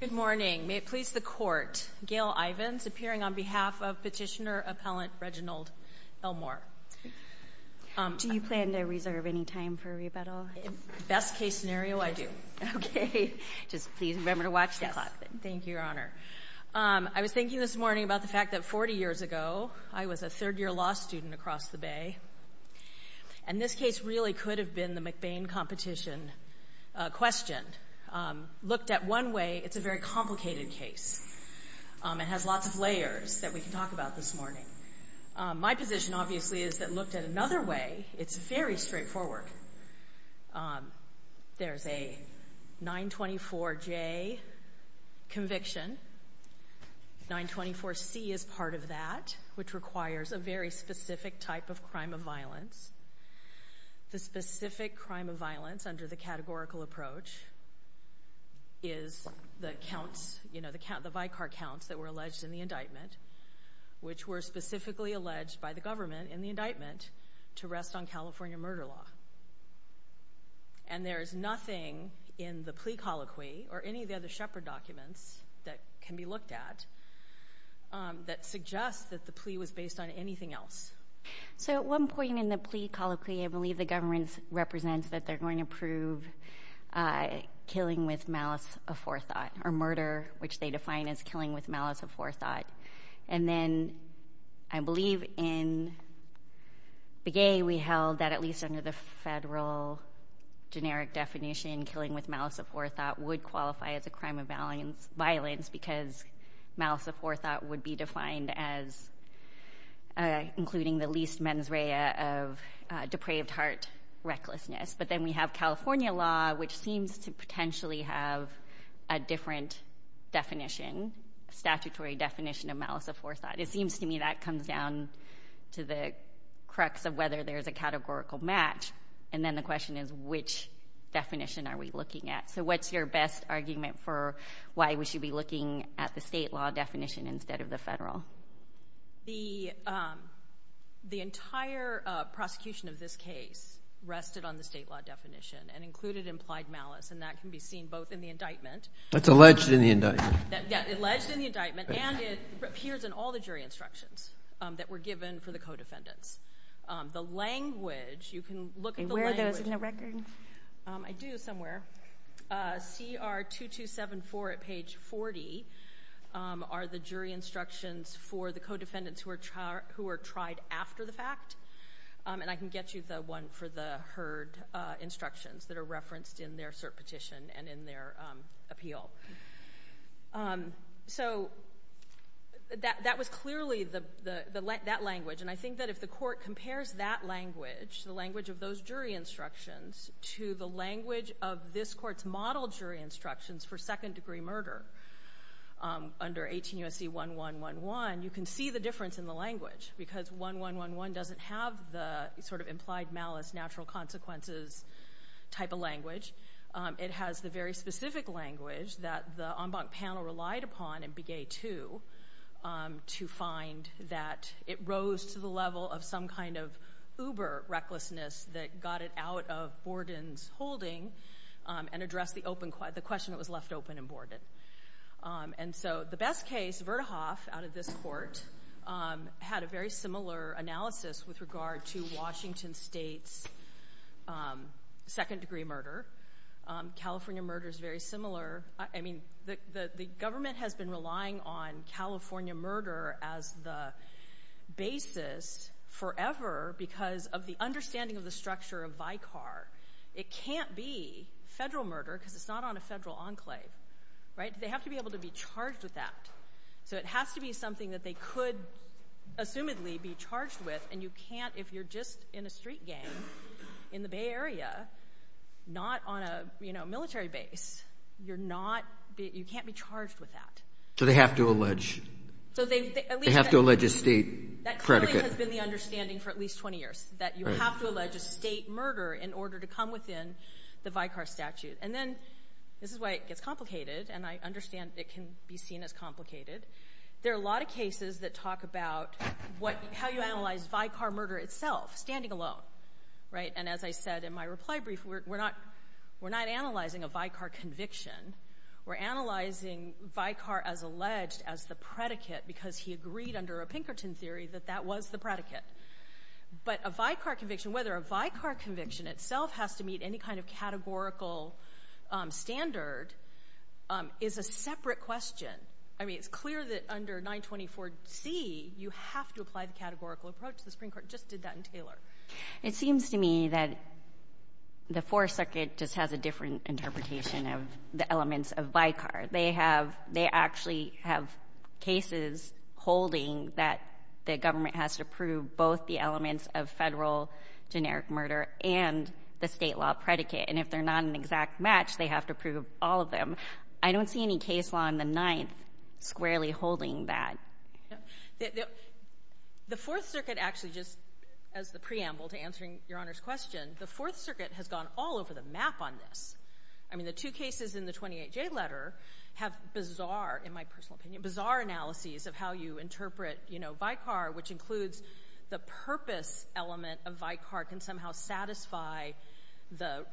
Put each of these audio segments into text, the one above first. Good morning. May it please the court, Gail Ivins appearing on behalf of petitioner appellant Reginald Elmore. Do you plan to reserve any time for a rebuttal? Best-case scenario, I do. Okay, just please remember to watch the clock. Thank you, Your Honor. I was thinking this morning about the fact that 40 years ago I was a third-year law student across the Bay, and this case really could have been the McBain competition question. Looked at one way, it's a very complicated case. It has lots of layers that we can talk about this morning. My position, obviously, is that looked at another way, it's very straightforward. There's a 924J conviction. 924C is part of that, which requires a very specific type of crime of violence. The specific crime of violence under the categorical approach is the counts, you know, the Vicar counts that were alleged in the indictment, which were specifically alleged by the government in the indictment to rest on California murder law. And there is nothing in the plea colloquy or any of the other Shepard documents that can be looked at that suggests that the plea was based on anything else. So at one point in the plea colloquy, I believe the government represents that they're going to prove killing with malice aforethought, or murder, which they define as killing with malice aforethought. And then I believe in Begay, we held that at least under the federal generic definition, killing with malice aforethought would qualify as a crime defined as including the least mens rea of depraved heart recklessness. But then we have California law, which seems to potentially have a different definition, statutory definition of malice aforethought. It seems to me that comes down to the crux of whether there's a categorical match. And then the question is, which definition are we looking at? So what's your best argument for why we should be looking at the state law definition instead of the federal? The entire prosecution of this case rested on the state law definition and included implied malice, and that can be seen both in the indictment. That's alleged in the indictment. That's alleged in the indictment, and it appears in all the jury instructions that were given for the co-defendants. The language, you can look at the record? I do, somewhere. CR 2274 at page 40 are the jury instructions for the co-defendants who are tried after the fact, and I can get you the one for the heard instructions that are referenced in their cert petition and in their appeal. So that was clearly that language, and I think that if the court to the language of this court's model jury instructions for second-degree murder under 18 U.S.C. 1111, you can see the difference in the language because 1111 doesn't have the sort of implied malice, natural consequences type of language. It has the very specific language that the en banc panel relied upon in Bigay 2 to find that it rose to the level of some kind of uber recklessness that got it out of Borden's holding and addressed the question that was left open in Borden. And so the best case, Verhoeff out of this court, had a very similar analysis with regard to Washington State's second-degree murder. California murder is very similar. I mean, the government has been relying on understanding of the structure of VICAR. It can't be federal murder because it's not on a federal enclave, right? They have to be able to be charged with that. So it has to be something that they could assumedly be charged with, and you can't, if you're just in a street gang in the Bay Area, not on a military base, you're not... You can't be charged with that. So they have to allege... So they at least... They have to allege a state predicate. That clearly has been the understanding for at least 20 years, that you have to allege a state murder in order to come within the VICAR statute. And then, this is why it gets complicated, and I understand it can be seen as complicated. There are a lot of cases that talk about how you analyze VICAR murder itself, standing alone, right? And as I said in my reply brief, we're not analyzing a VICAR conviction. We're analyzing VICAR as alleged as the predicate because he agreed under a predicate. But a VICAR conviction, whether a VICAR conviction itself has to meet any kind of categorical standard, is a separate question. I mean, it's clear that under 924C, you have to apply the categorical approach. The Supreme Court just did that in Taylor. It seems to me that the Fourth Circuit just has a different interpretation of the elements of VICAR. They have... They actually have cases holding that the state law has to prove both the elements of federal generic murder and the state law predicate. And if they're not an exact match, they have to prove all of them. I don't see any case law in the Ninth squarely holding that. The Fourth Circuit actually just, as the preamble to answering Your Honor's question, the Fourth Circuit has gone all over the map on this. I mean, the two cases in the 28J letter have bizarre, in my personal opinion, bizarre analyses of how you interpret, you know, VICAR, which includes the purpose element of VICAR can somehow satisfy the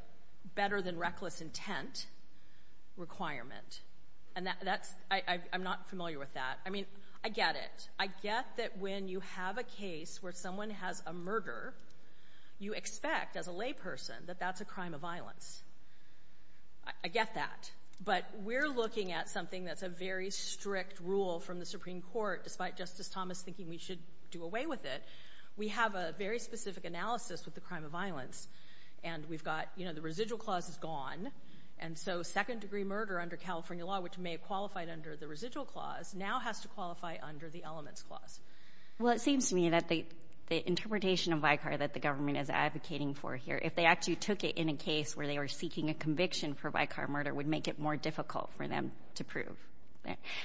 better than reckless intent requirement. And that's... I'm not familiar with that. I mean, I get it. I get that when you have a case where someone has a murder, you expect, as a layperson, that that's a crime of violence. I get that. But we're looking at something that's a very strict rule from the Supreme Court, despite Justice Thomas thinking we should do away with it. We have a very specific analysis with the crime of violence. And we've got, you know, the residual clause is gone. And so second degree murder under California law, which may have qualified under the residual clause, now has to qualify under the elements clause. Well, it seems to me that the interpretation of VICAR that the government is advocating for here, if they actually took it in a case where they were seeking a conviction for VICAR murder would make it more difficult for them to prove.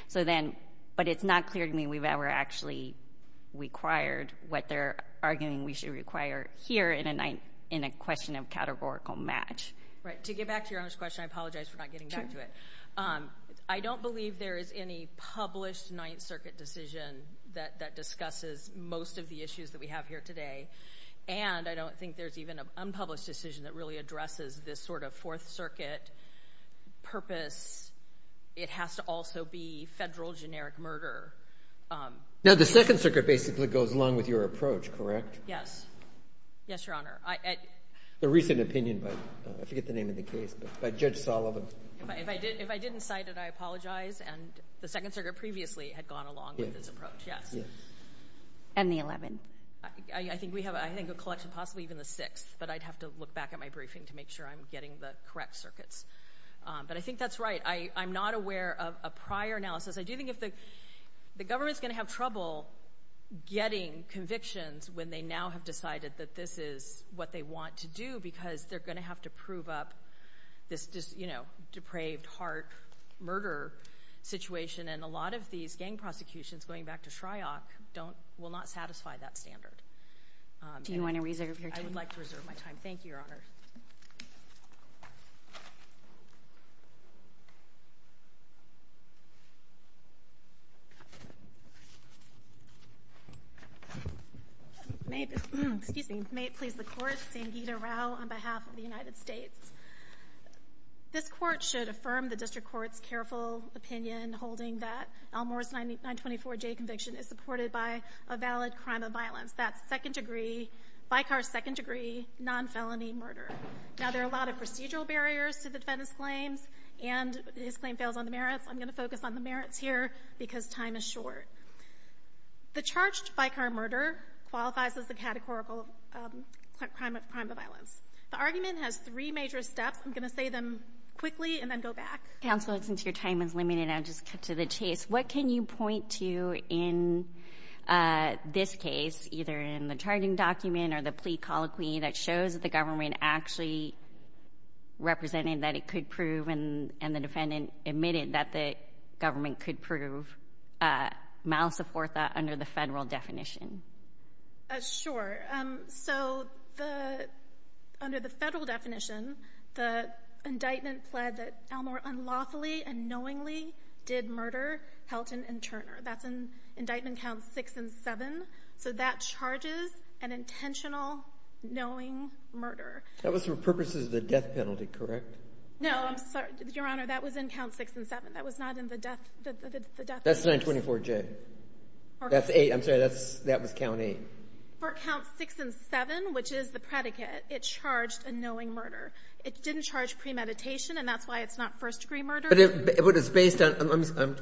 So then, but it's not clear to me we've ever actually required what they're arguing we should require here in a question of categorical match. Right. To get back to your earlier question, I apologize for not getting back to it. I don't believe there is any published Ninth Circuit decision that discusses most of the issues that we have here today. And I don't think there's even an unpublished decision that really addresses this Fourth Circuit purpose. It has to also be federal generic murder. Now, the Second Circuit basically goes along with your approach, correct? Yes. Yes, Your Honor. The recent opinion by, I forget the name of the case, but by Judge Sullivan. If I didn't cite it, I apologize. And the Second Circuit previously had gone along with this approach. Yes. And the 11th. I think we have, I think a collection, possibly even the 6th, but I'd have to look back at my briefing to make sure I'm getting the correct circuits. But I think that's right. I'm not aware of a prior analysis. I do think if the government's going to have trouble getting convictions when they now have decided that this is what they want to do because they're going to have to prove up this, you know, depraved heart murder situation. And a lot of these gang prosecutions, going back to Shryock, don't, will not satisfy that standard. Do you want to reserve your time? I would like to reserve my time. Thank you, Your Honor. May, excuse me, may it please the Court, Sangeeta Rao on behalf of the United States. This Court should affirm the District Court's careful opinion, holding that Elmore's 924J conviction is supported by a valid crime of violence. That's second degree, by car second degree, non-felony murder. Now, there are a lot of procedural barriers to the defendant's claims and his claim fails on the merits. I'm going to focus on the merits here because time is short. The charged by car murder qualifies as a categorical crime of violence. The argument has three major steps. I'm going to say them quickly and then go back. Counsel, since your time is limited, I'll just cut to the chase. What can you tell us about the charging document or the plea colloquy that shows that the government actually represented that it could prove and the defendant admitted that the government could prove malice of worth under the federal definition? Sure. So, under the federal definition, the indictment pled that Elmore unlawfully and knowingly did murder Helton and Turner. That's in indictment count six and seven. So, that charges an intentional knowing murder. That was for purposes of the death penalty, correct? No. I'm sorry. Your Honor, that was in count six and seven. That was not in the death case. That's 924J. That's eight. I'm sorry. That was count eight. For count six and seven, which is the predicate, it charged a knowing murder. It didn't charge premeditation, and that's why it's not first degree murder. But it's based on,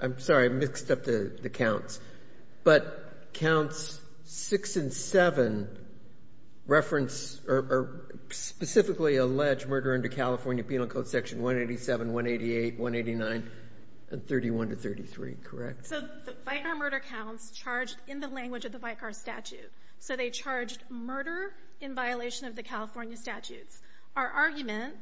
I'm sorry, I mixed up the counts, but counts six and seven reference or specifically allege murder under California Penal Code Section 187, 188, 189, and 31 to 33, correct? So, the Vicar murder counts charged in the language of the Vicar statute. So, they charged murder in violation of the California statutes. Our argument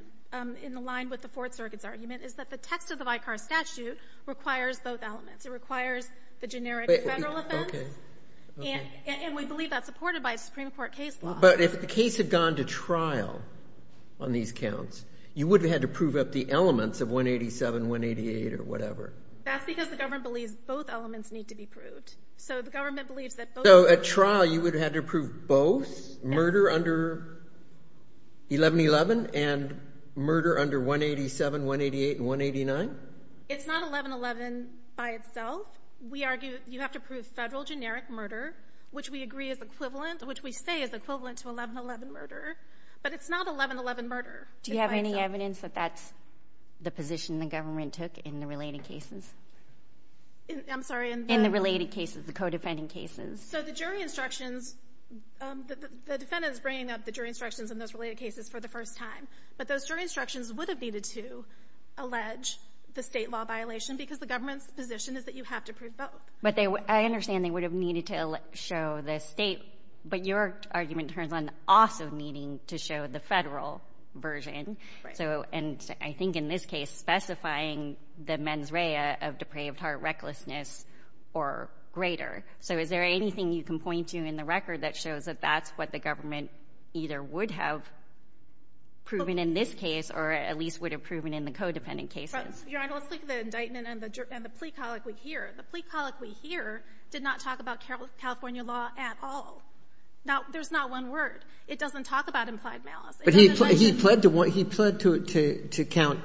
in line with the Fourth Circuit's argument is that the text of the Vicar statute requires both elements. It requires the generic federal offense. Okay. And we believe that's supported by Supreme Court case law. But if the case had gone to trial on these counts, you would have had to prove up the elements of 187, 188, or whatever. That's because the government believes both elements need to be proved. So, the government believes that both... So, at trial, you would have had to prove both murder under 1111 and murder under 187, 188, and 189? It's not 1111 by itself. We argue you have to prove federal generic murder, which we agree is equivalent, which we say is equivalent to 1111 murder. But it's not 1111 murder. Do you have any evidence that that's the position the government took in the related cases? I'm sorry, in the... In the related cases, the co-defending cases. So, the jury instructions, the defendant is bringing up the jury instructions in those related cases for the first time. But those jury instructions would have needed to allege the state law violation because the government's position is that you have to prove both. But I understand they would have needed to show the state. But your argument turns on also needing to show the federal version. Right. So, and I think in this case, specifying the mens rea of depraved heart recklessness or greater. So, is there anything you can point to in the record that shows that that's what the government either would have proven in this case or at least would have proven in the co-dependent cases? Your Honor, let's look at the indictment and the plea colloquy here. The plea colloquy here did not talk about California law at all. Now, there's not one word. It doesn't talk about implied malice. But he pled to count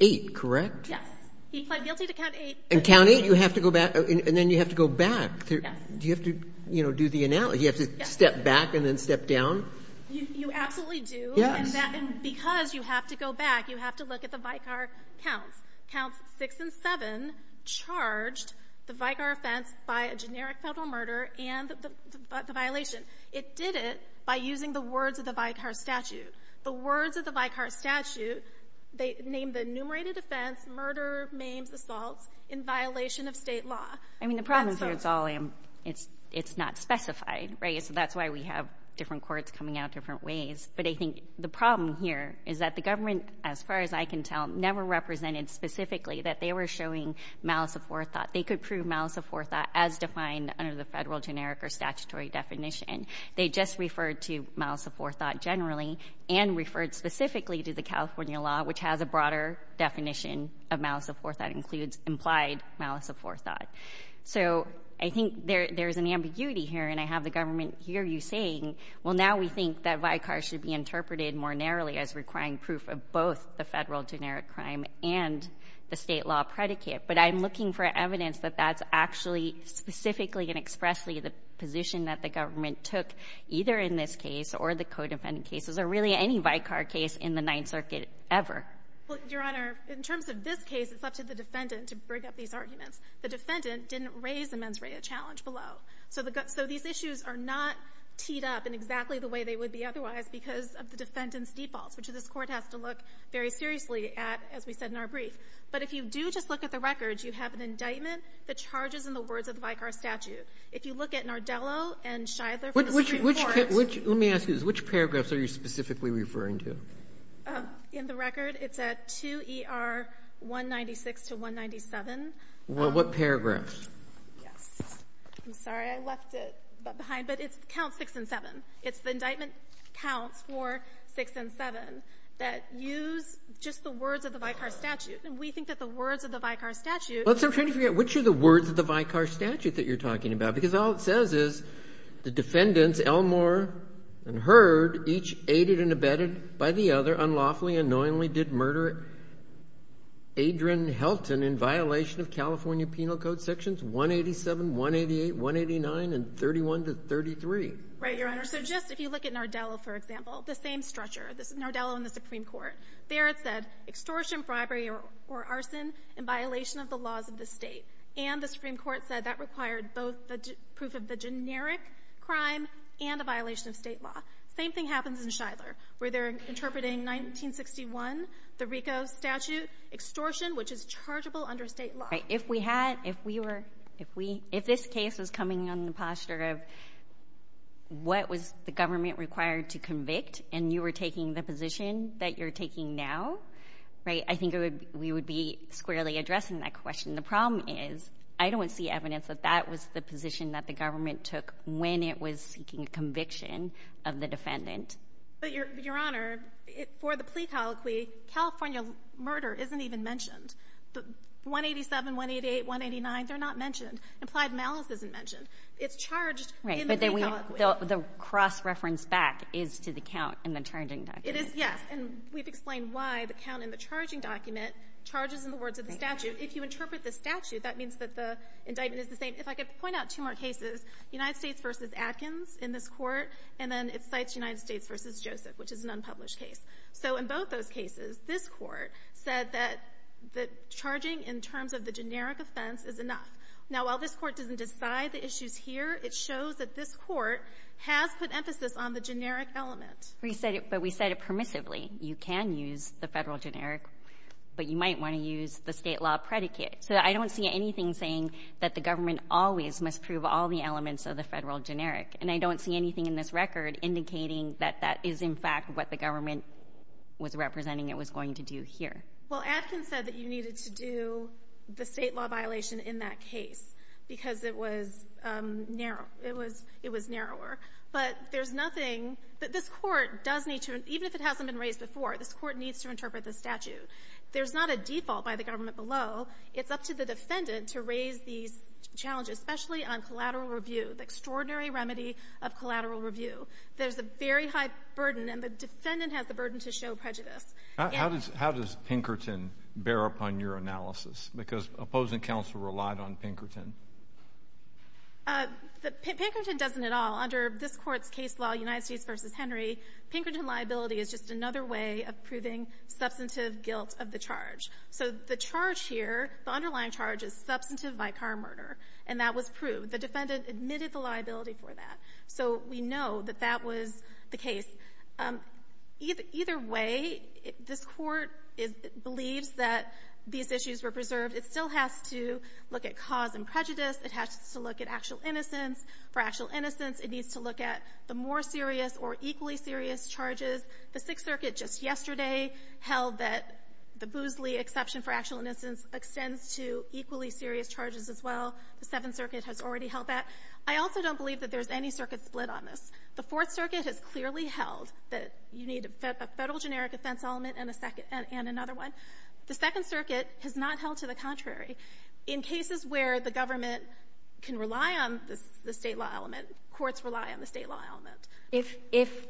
eight, correct? Yes. He pled guilty to count eight. And count eight, you have to go back, and then you have to go back. Do you have to, you know, do the analysis? Do you have to step back and then step down? You absolutely do. Yes. And because you have to go back, you have to look at the Vicar counts. Counts six and seven charged the Vicar offense by a generic federal murder and the violation. It did it by using the words of the Vicar statute. The words of the Vicar statute, they named the enumerated offense murder, maims, assaults in violation of State law. I mean, the problem here is it's not specified, right? So that's why we have different courts coming out different ways. But I think the problem here is that the government, as far as I can tell, never represented specifically that they were showing malice of forethought. They could prove malice of forethought as defined under the federal generic or statutory definition. They just referred to malice of forethought generally and referred specifically that includes implied malice of forethought. So I think there's an ambiguity here. And I have the government hear you saying, well, now we think that Vicar should be interpreted more narrowly as requiring proof of both the federal generic crime and the State law predicate. But I'm looking for evidence that that's actually specifically and expressly the position that the government took either in this case or the co-defendant cases or really any Vicar case in the Ninth Circuit ever. Well, Your Honor, in terms of this case, it's up to the defendant to bring up these arguments. The defendant didn't raise the mens rea challenge below. So these issues are not teed up in exactly the way they would be otherwise because of the defendant's defaults, which this Court has to look very seriously at, as we said in our brief. But if you do just look at the records, you have an indictment that charges in the words of the Vicar statute. If you look at Nardello and Shidler for the Supreme Court — Let me ask you this. Which paragraphs are you specifically referring to? In the record, it's at 2er 196 to 197. Well, what paragraphs? Yes. I'm sorry. I left it behind. But it counts 6 and 7. It's the indictment counts for 6 and 7 that use just the words of the Vicar statute. And we think that the words of the Vicar statute — I'm trying to figure out which are the words of the Vicar statute that you're talking about, because all it says is the defendants, Elmore and Hurd, each aided and abetted by the other unlawfully and unknowingly did murder Adrian Helton in violation of California Penal Code sections 187, 188, 189, and 31 to 33. Right, Your Honor. So just if you look at Nardello, for example, the same structure. This is Nardello and the Supreme Court. There it said extortion, bribery, or arson in violation of the laws of the State. And the Supreme Court said that required both the proof of the generic crime and a violation of State law. The same thing happens in Shidler, where they're interpreting 1961, the RICO statute, extortion, which is chargeable under State law. Right. If we had — if we were — if this case was coming on the posture of what was the government required to convict, and you were taking the position that you're taking now, right, I think we would be squarely addressing that question. The problem is I don't see evidence that that was the position that the government took when it was seeking conviction of the defendant. But, Your Honor, for the plea colloquy, California murder isn't even mentioned. The 187, 188, 189, they're not mentioned. Implied malice isn't mentioned. It's charged in the plea colloquy. Right. But the cross-reference back is to the count in the charging document. It is, yes. And we've explained why the count in the charging document charges in the words of the statute. If you interpret the statute, that means that the indictment is the same. If I could point out two more cases, United States v. Atkins in this Court, and then it cites United States v. Joseph, which is an unpublished case. So in both those cases, this Court said that the charging in terms of the generic offense is enough. Now, while this Court doesn't decide the issues here, it shows that this Court has put emphasis on the generic element. Well, you said it, but we said it permissively. You can use the Federal generic, but you might want to use the State law predicate. So I don't see anything saying that the government always must prove all the elements of the Federal generic. And I don't see anything in this record indicating that that is, in fact, what the government was representing it was going to do here. Well, Atkins said that you needed to do the State law violation in that case because it was narrow. It was narrower. But there's nothing that this Court does need to — even if it hasn't been raised before, this Court needs to interpret the statute. There's not a default by the government below. It's up to the defendant to raise these challenges, especially on collateral review, the extraordinary remedy of collateral review. There's a very high burden, and the defendant has the burden to show prejudice. Yes. How does Pinkerton bear up on your analysis? Because opposing counsel relied on Pinkerton. Pinkerton doesn't at all. Under this Court's case law, United States v. Henry, Pinkerton liability is just another way of proving substantive guilt of the charge. So the charge here, the underlying charge, is substantive vicar murder, and that was proved. The defendant admitted the liability for that. So we know that that was the case. Either way, this Court believes that these issues were preserved. It still has to look at cause and prejudice. It has to look at actual innocence. For actual innocence, it needs to look at the more serious or equally serious charges. The Sixth Circuit just yesterday held that the Boozley exception for actual innocence extends to equally serious charges as well. The Seventh Circuit has already held that. I also don't believe that there's any circuit split on this. The Fourth Circuit has clearly held that you need a Federal generic offense element and a second — and another one. The Second Circuit has not held to the contrary. In cases where the government can rely on the State law element, courts rely on the State law element. If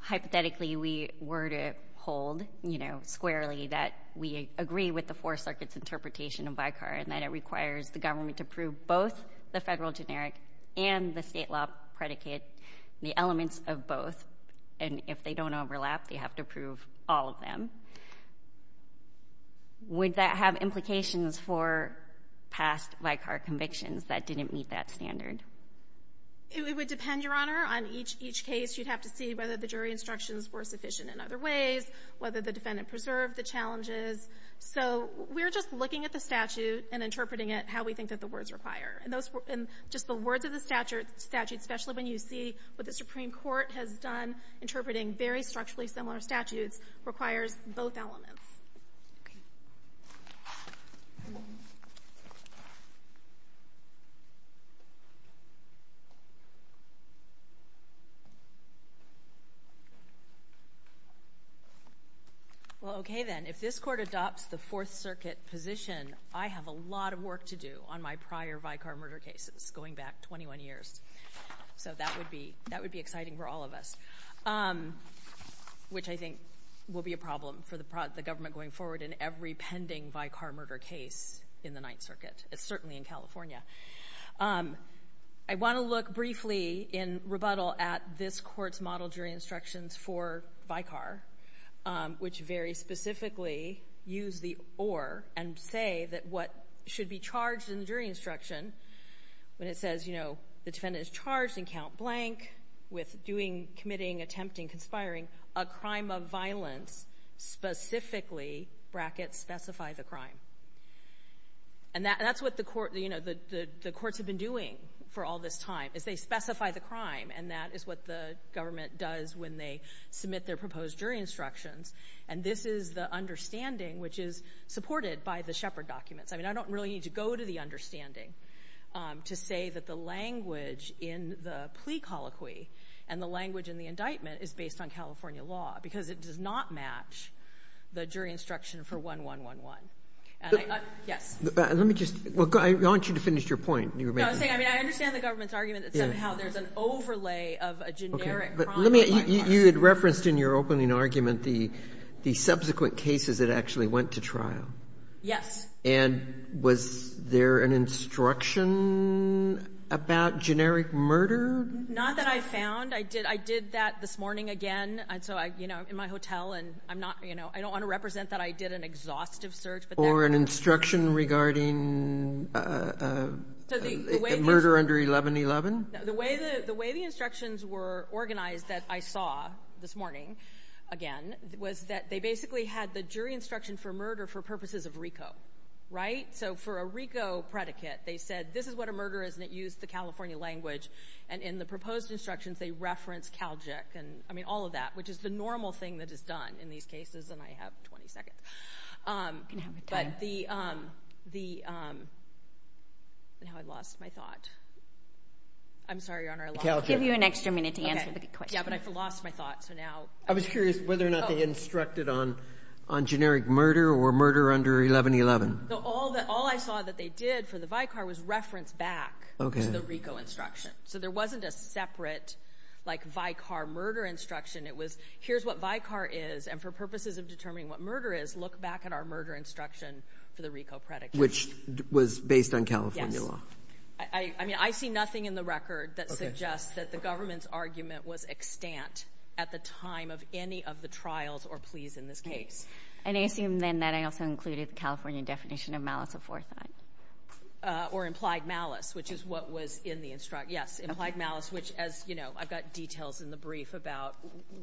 hypothetically we were to hold, you know, squarely that we agree with the Fourth Circuit's interpretation of vicar and that it requires the government to prove both the Federal generic and the State law predicate, the elements of both, and if they don't overlap, they have to prove all of them, would that have implications for past vicar convictions that didn't meet that standard? It would depend, Your Honor, on each — each case. You'd have to see whether the jury instructions were sufficient in other ways, whether the defendant preserved the challenges. So we're just looking at the statute and interpreting it how we think that the words require. And those — and just the words of the statute, especially when you see what the Supreme Court has done interpreting very structurally similar statutes, requires both elements. Okay. Well, okay then, if this Court adopts the Fourth Circuit position, I have a lot of work to do on my prior vicar murder cases going back 21 years. So that would be — that would be exciting for all of us, which I think will be a problem for the — the government going forward in every pending vicar murder case in the Ninth Circuit, certainly in California. I want to look briefly in rebuttal at this Court's model jury instructions for vicar, which very specifically use the or and say that what should be charged in the jury instruction when it says, you know, the defendant is charged in count blank with doing, committing, attempting, conspiring a crime of violence, specifically brackets specify the crime. And that's what the court — you know, the courts have been doing for all this time, is they specify the crime, and that is what the government does when they submit their proposed jury instructions. And this is the understanding, which is supported by the Shepard documents. I mean, I don't really need to go to the understanding to say that the language in the plea colloquy and the language in the indictment is based on California law, because it does not match the jury instruction for 1111. And I — yes. Let me just — I want you to finish your point. No, I was saying, I mean, I understand the government's argument that somehow there's an overlay of a generic crime of violence. Okay. But let me — you had referenced in your opening argument the subsequent cases that actually went to trial. Yes. And was there an instruction about generic murder? Not that I found. I did — I did that this morning again. And so I — you know, I'm in my hotel, and I'm not — you know, I don't want to represent that I did an exhaustive search, but there — Or an instruction regarding murder under 1111? The way the — the way the instructions were organized that I saw this morning again was that they basically had the jury instruction for murder for purposes of RICO, right? So for a RICO predicate, they said, this is what a murder is, and it used the California language. And in the proposed instructions, they referenced Calgic and — I mean, all of that, which is the normal thing that is done in these cases, and I have 20 seconds. But the — now I lost my thought. I'm sorry, Your Honor, I lost my thought. Calgic. I'll give you an extra minute to answer the question. Okay. Yeah, but I lost my thought, so now — I was curious whether or not they instructed on — on generic murder or murder under 1111. No, all that — all I saw that they did for the VICAR was reference back to the RICO instruction. So there wasn't a separate, like, VICAR murder instruction. It was, here's what VICAR is, and for purposes of determining what murder is, look back at our murder instruction for the RICO predicate. Which was based on California law. Yes. I — I mean, I see nothing in the record that suggests that the government's argument was extant at the time of any of the trials or pleas in this case. And I assume, then, that I also included the California definition of malice aforethought. Or implied malice, which is what was in the — yes, implied malice, which, as you know, I've got details in the brief about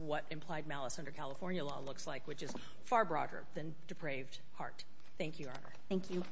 what implied malice under California law looks like, which is far broader than depraved heart. Thank you, Your Honor. Thank you.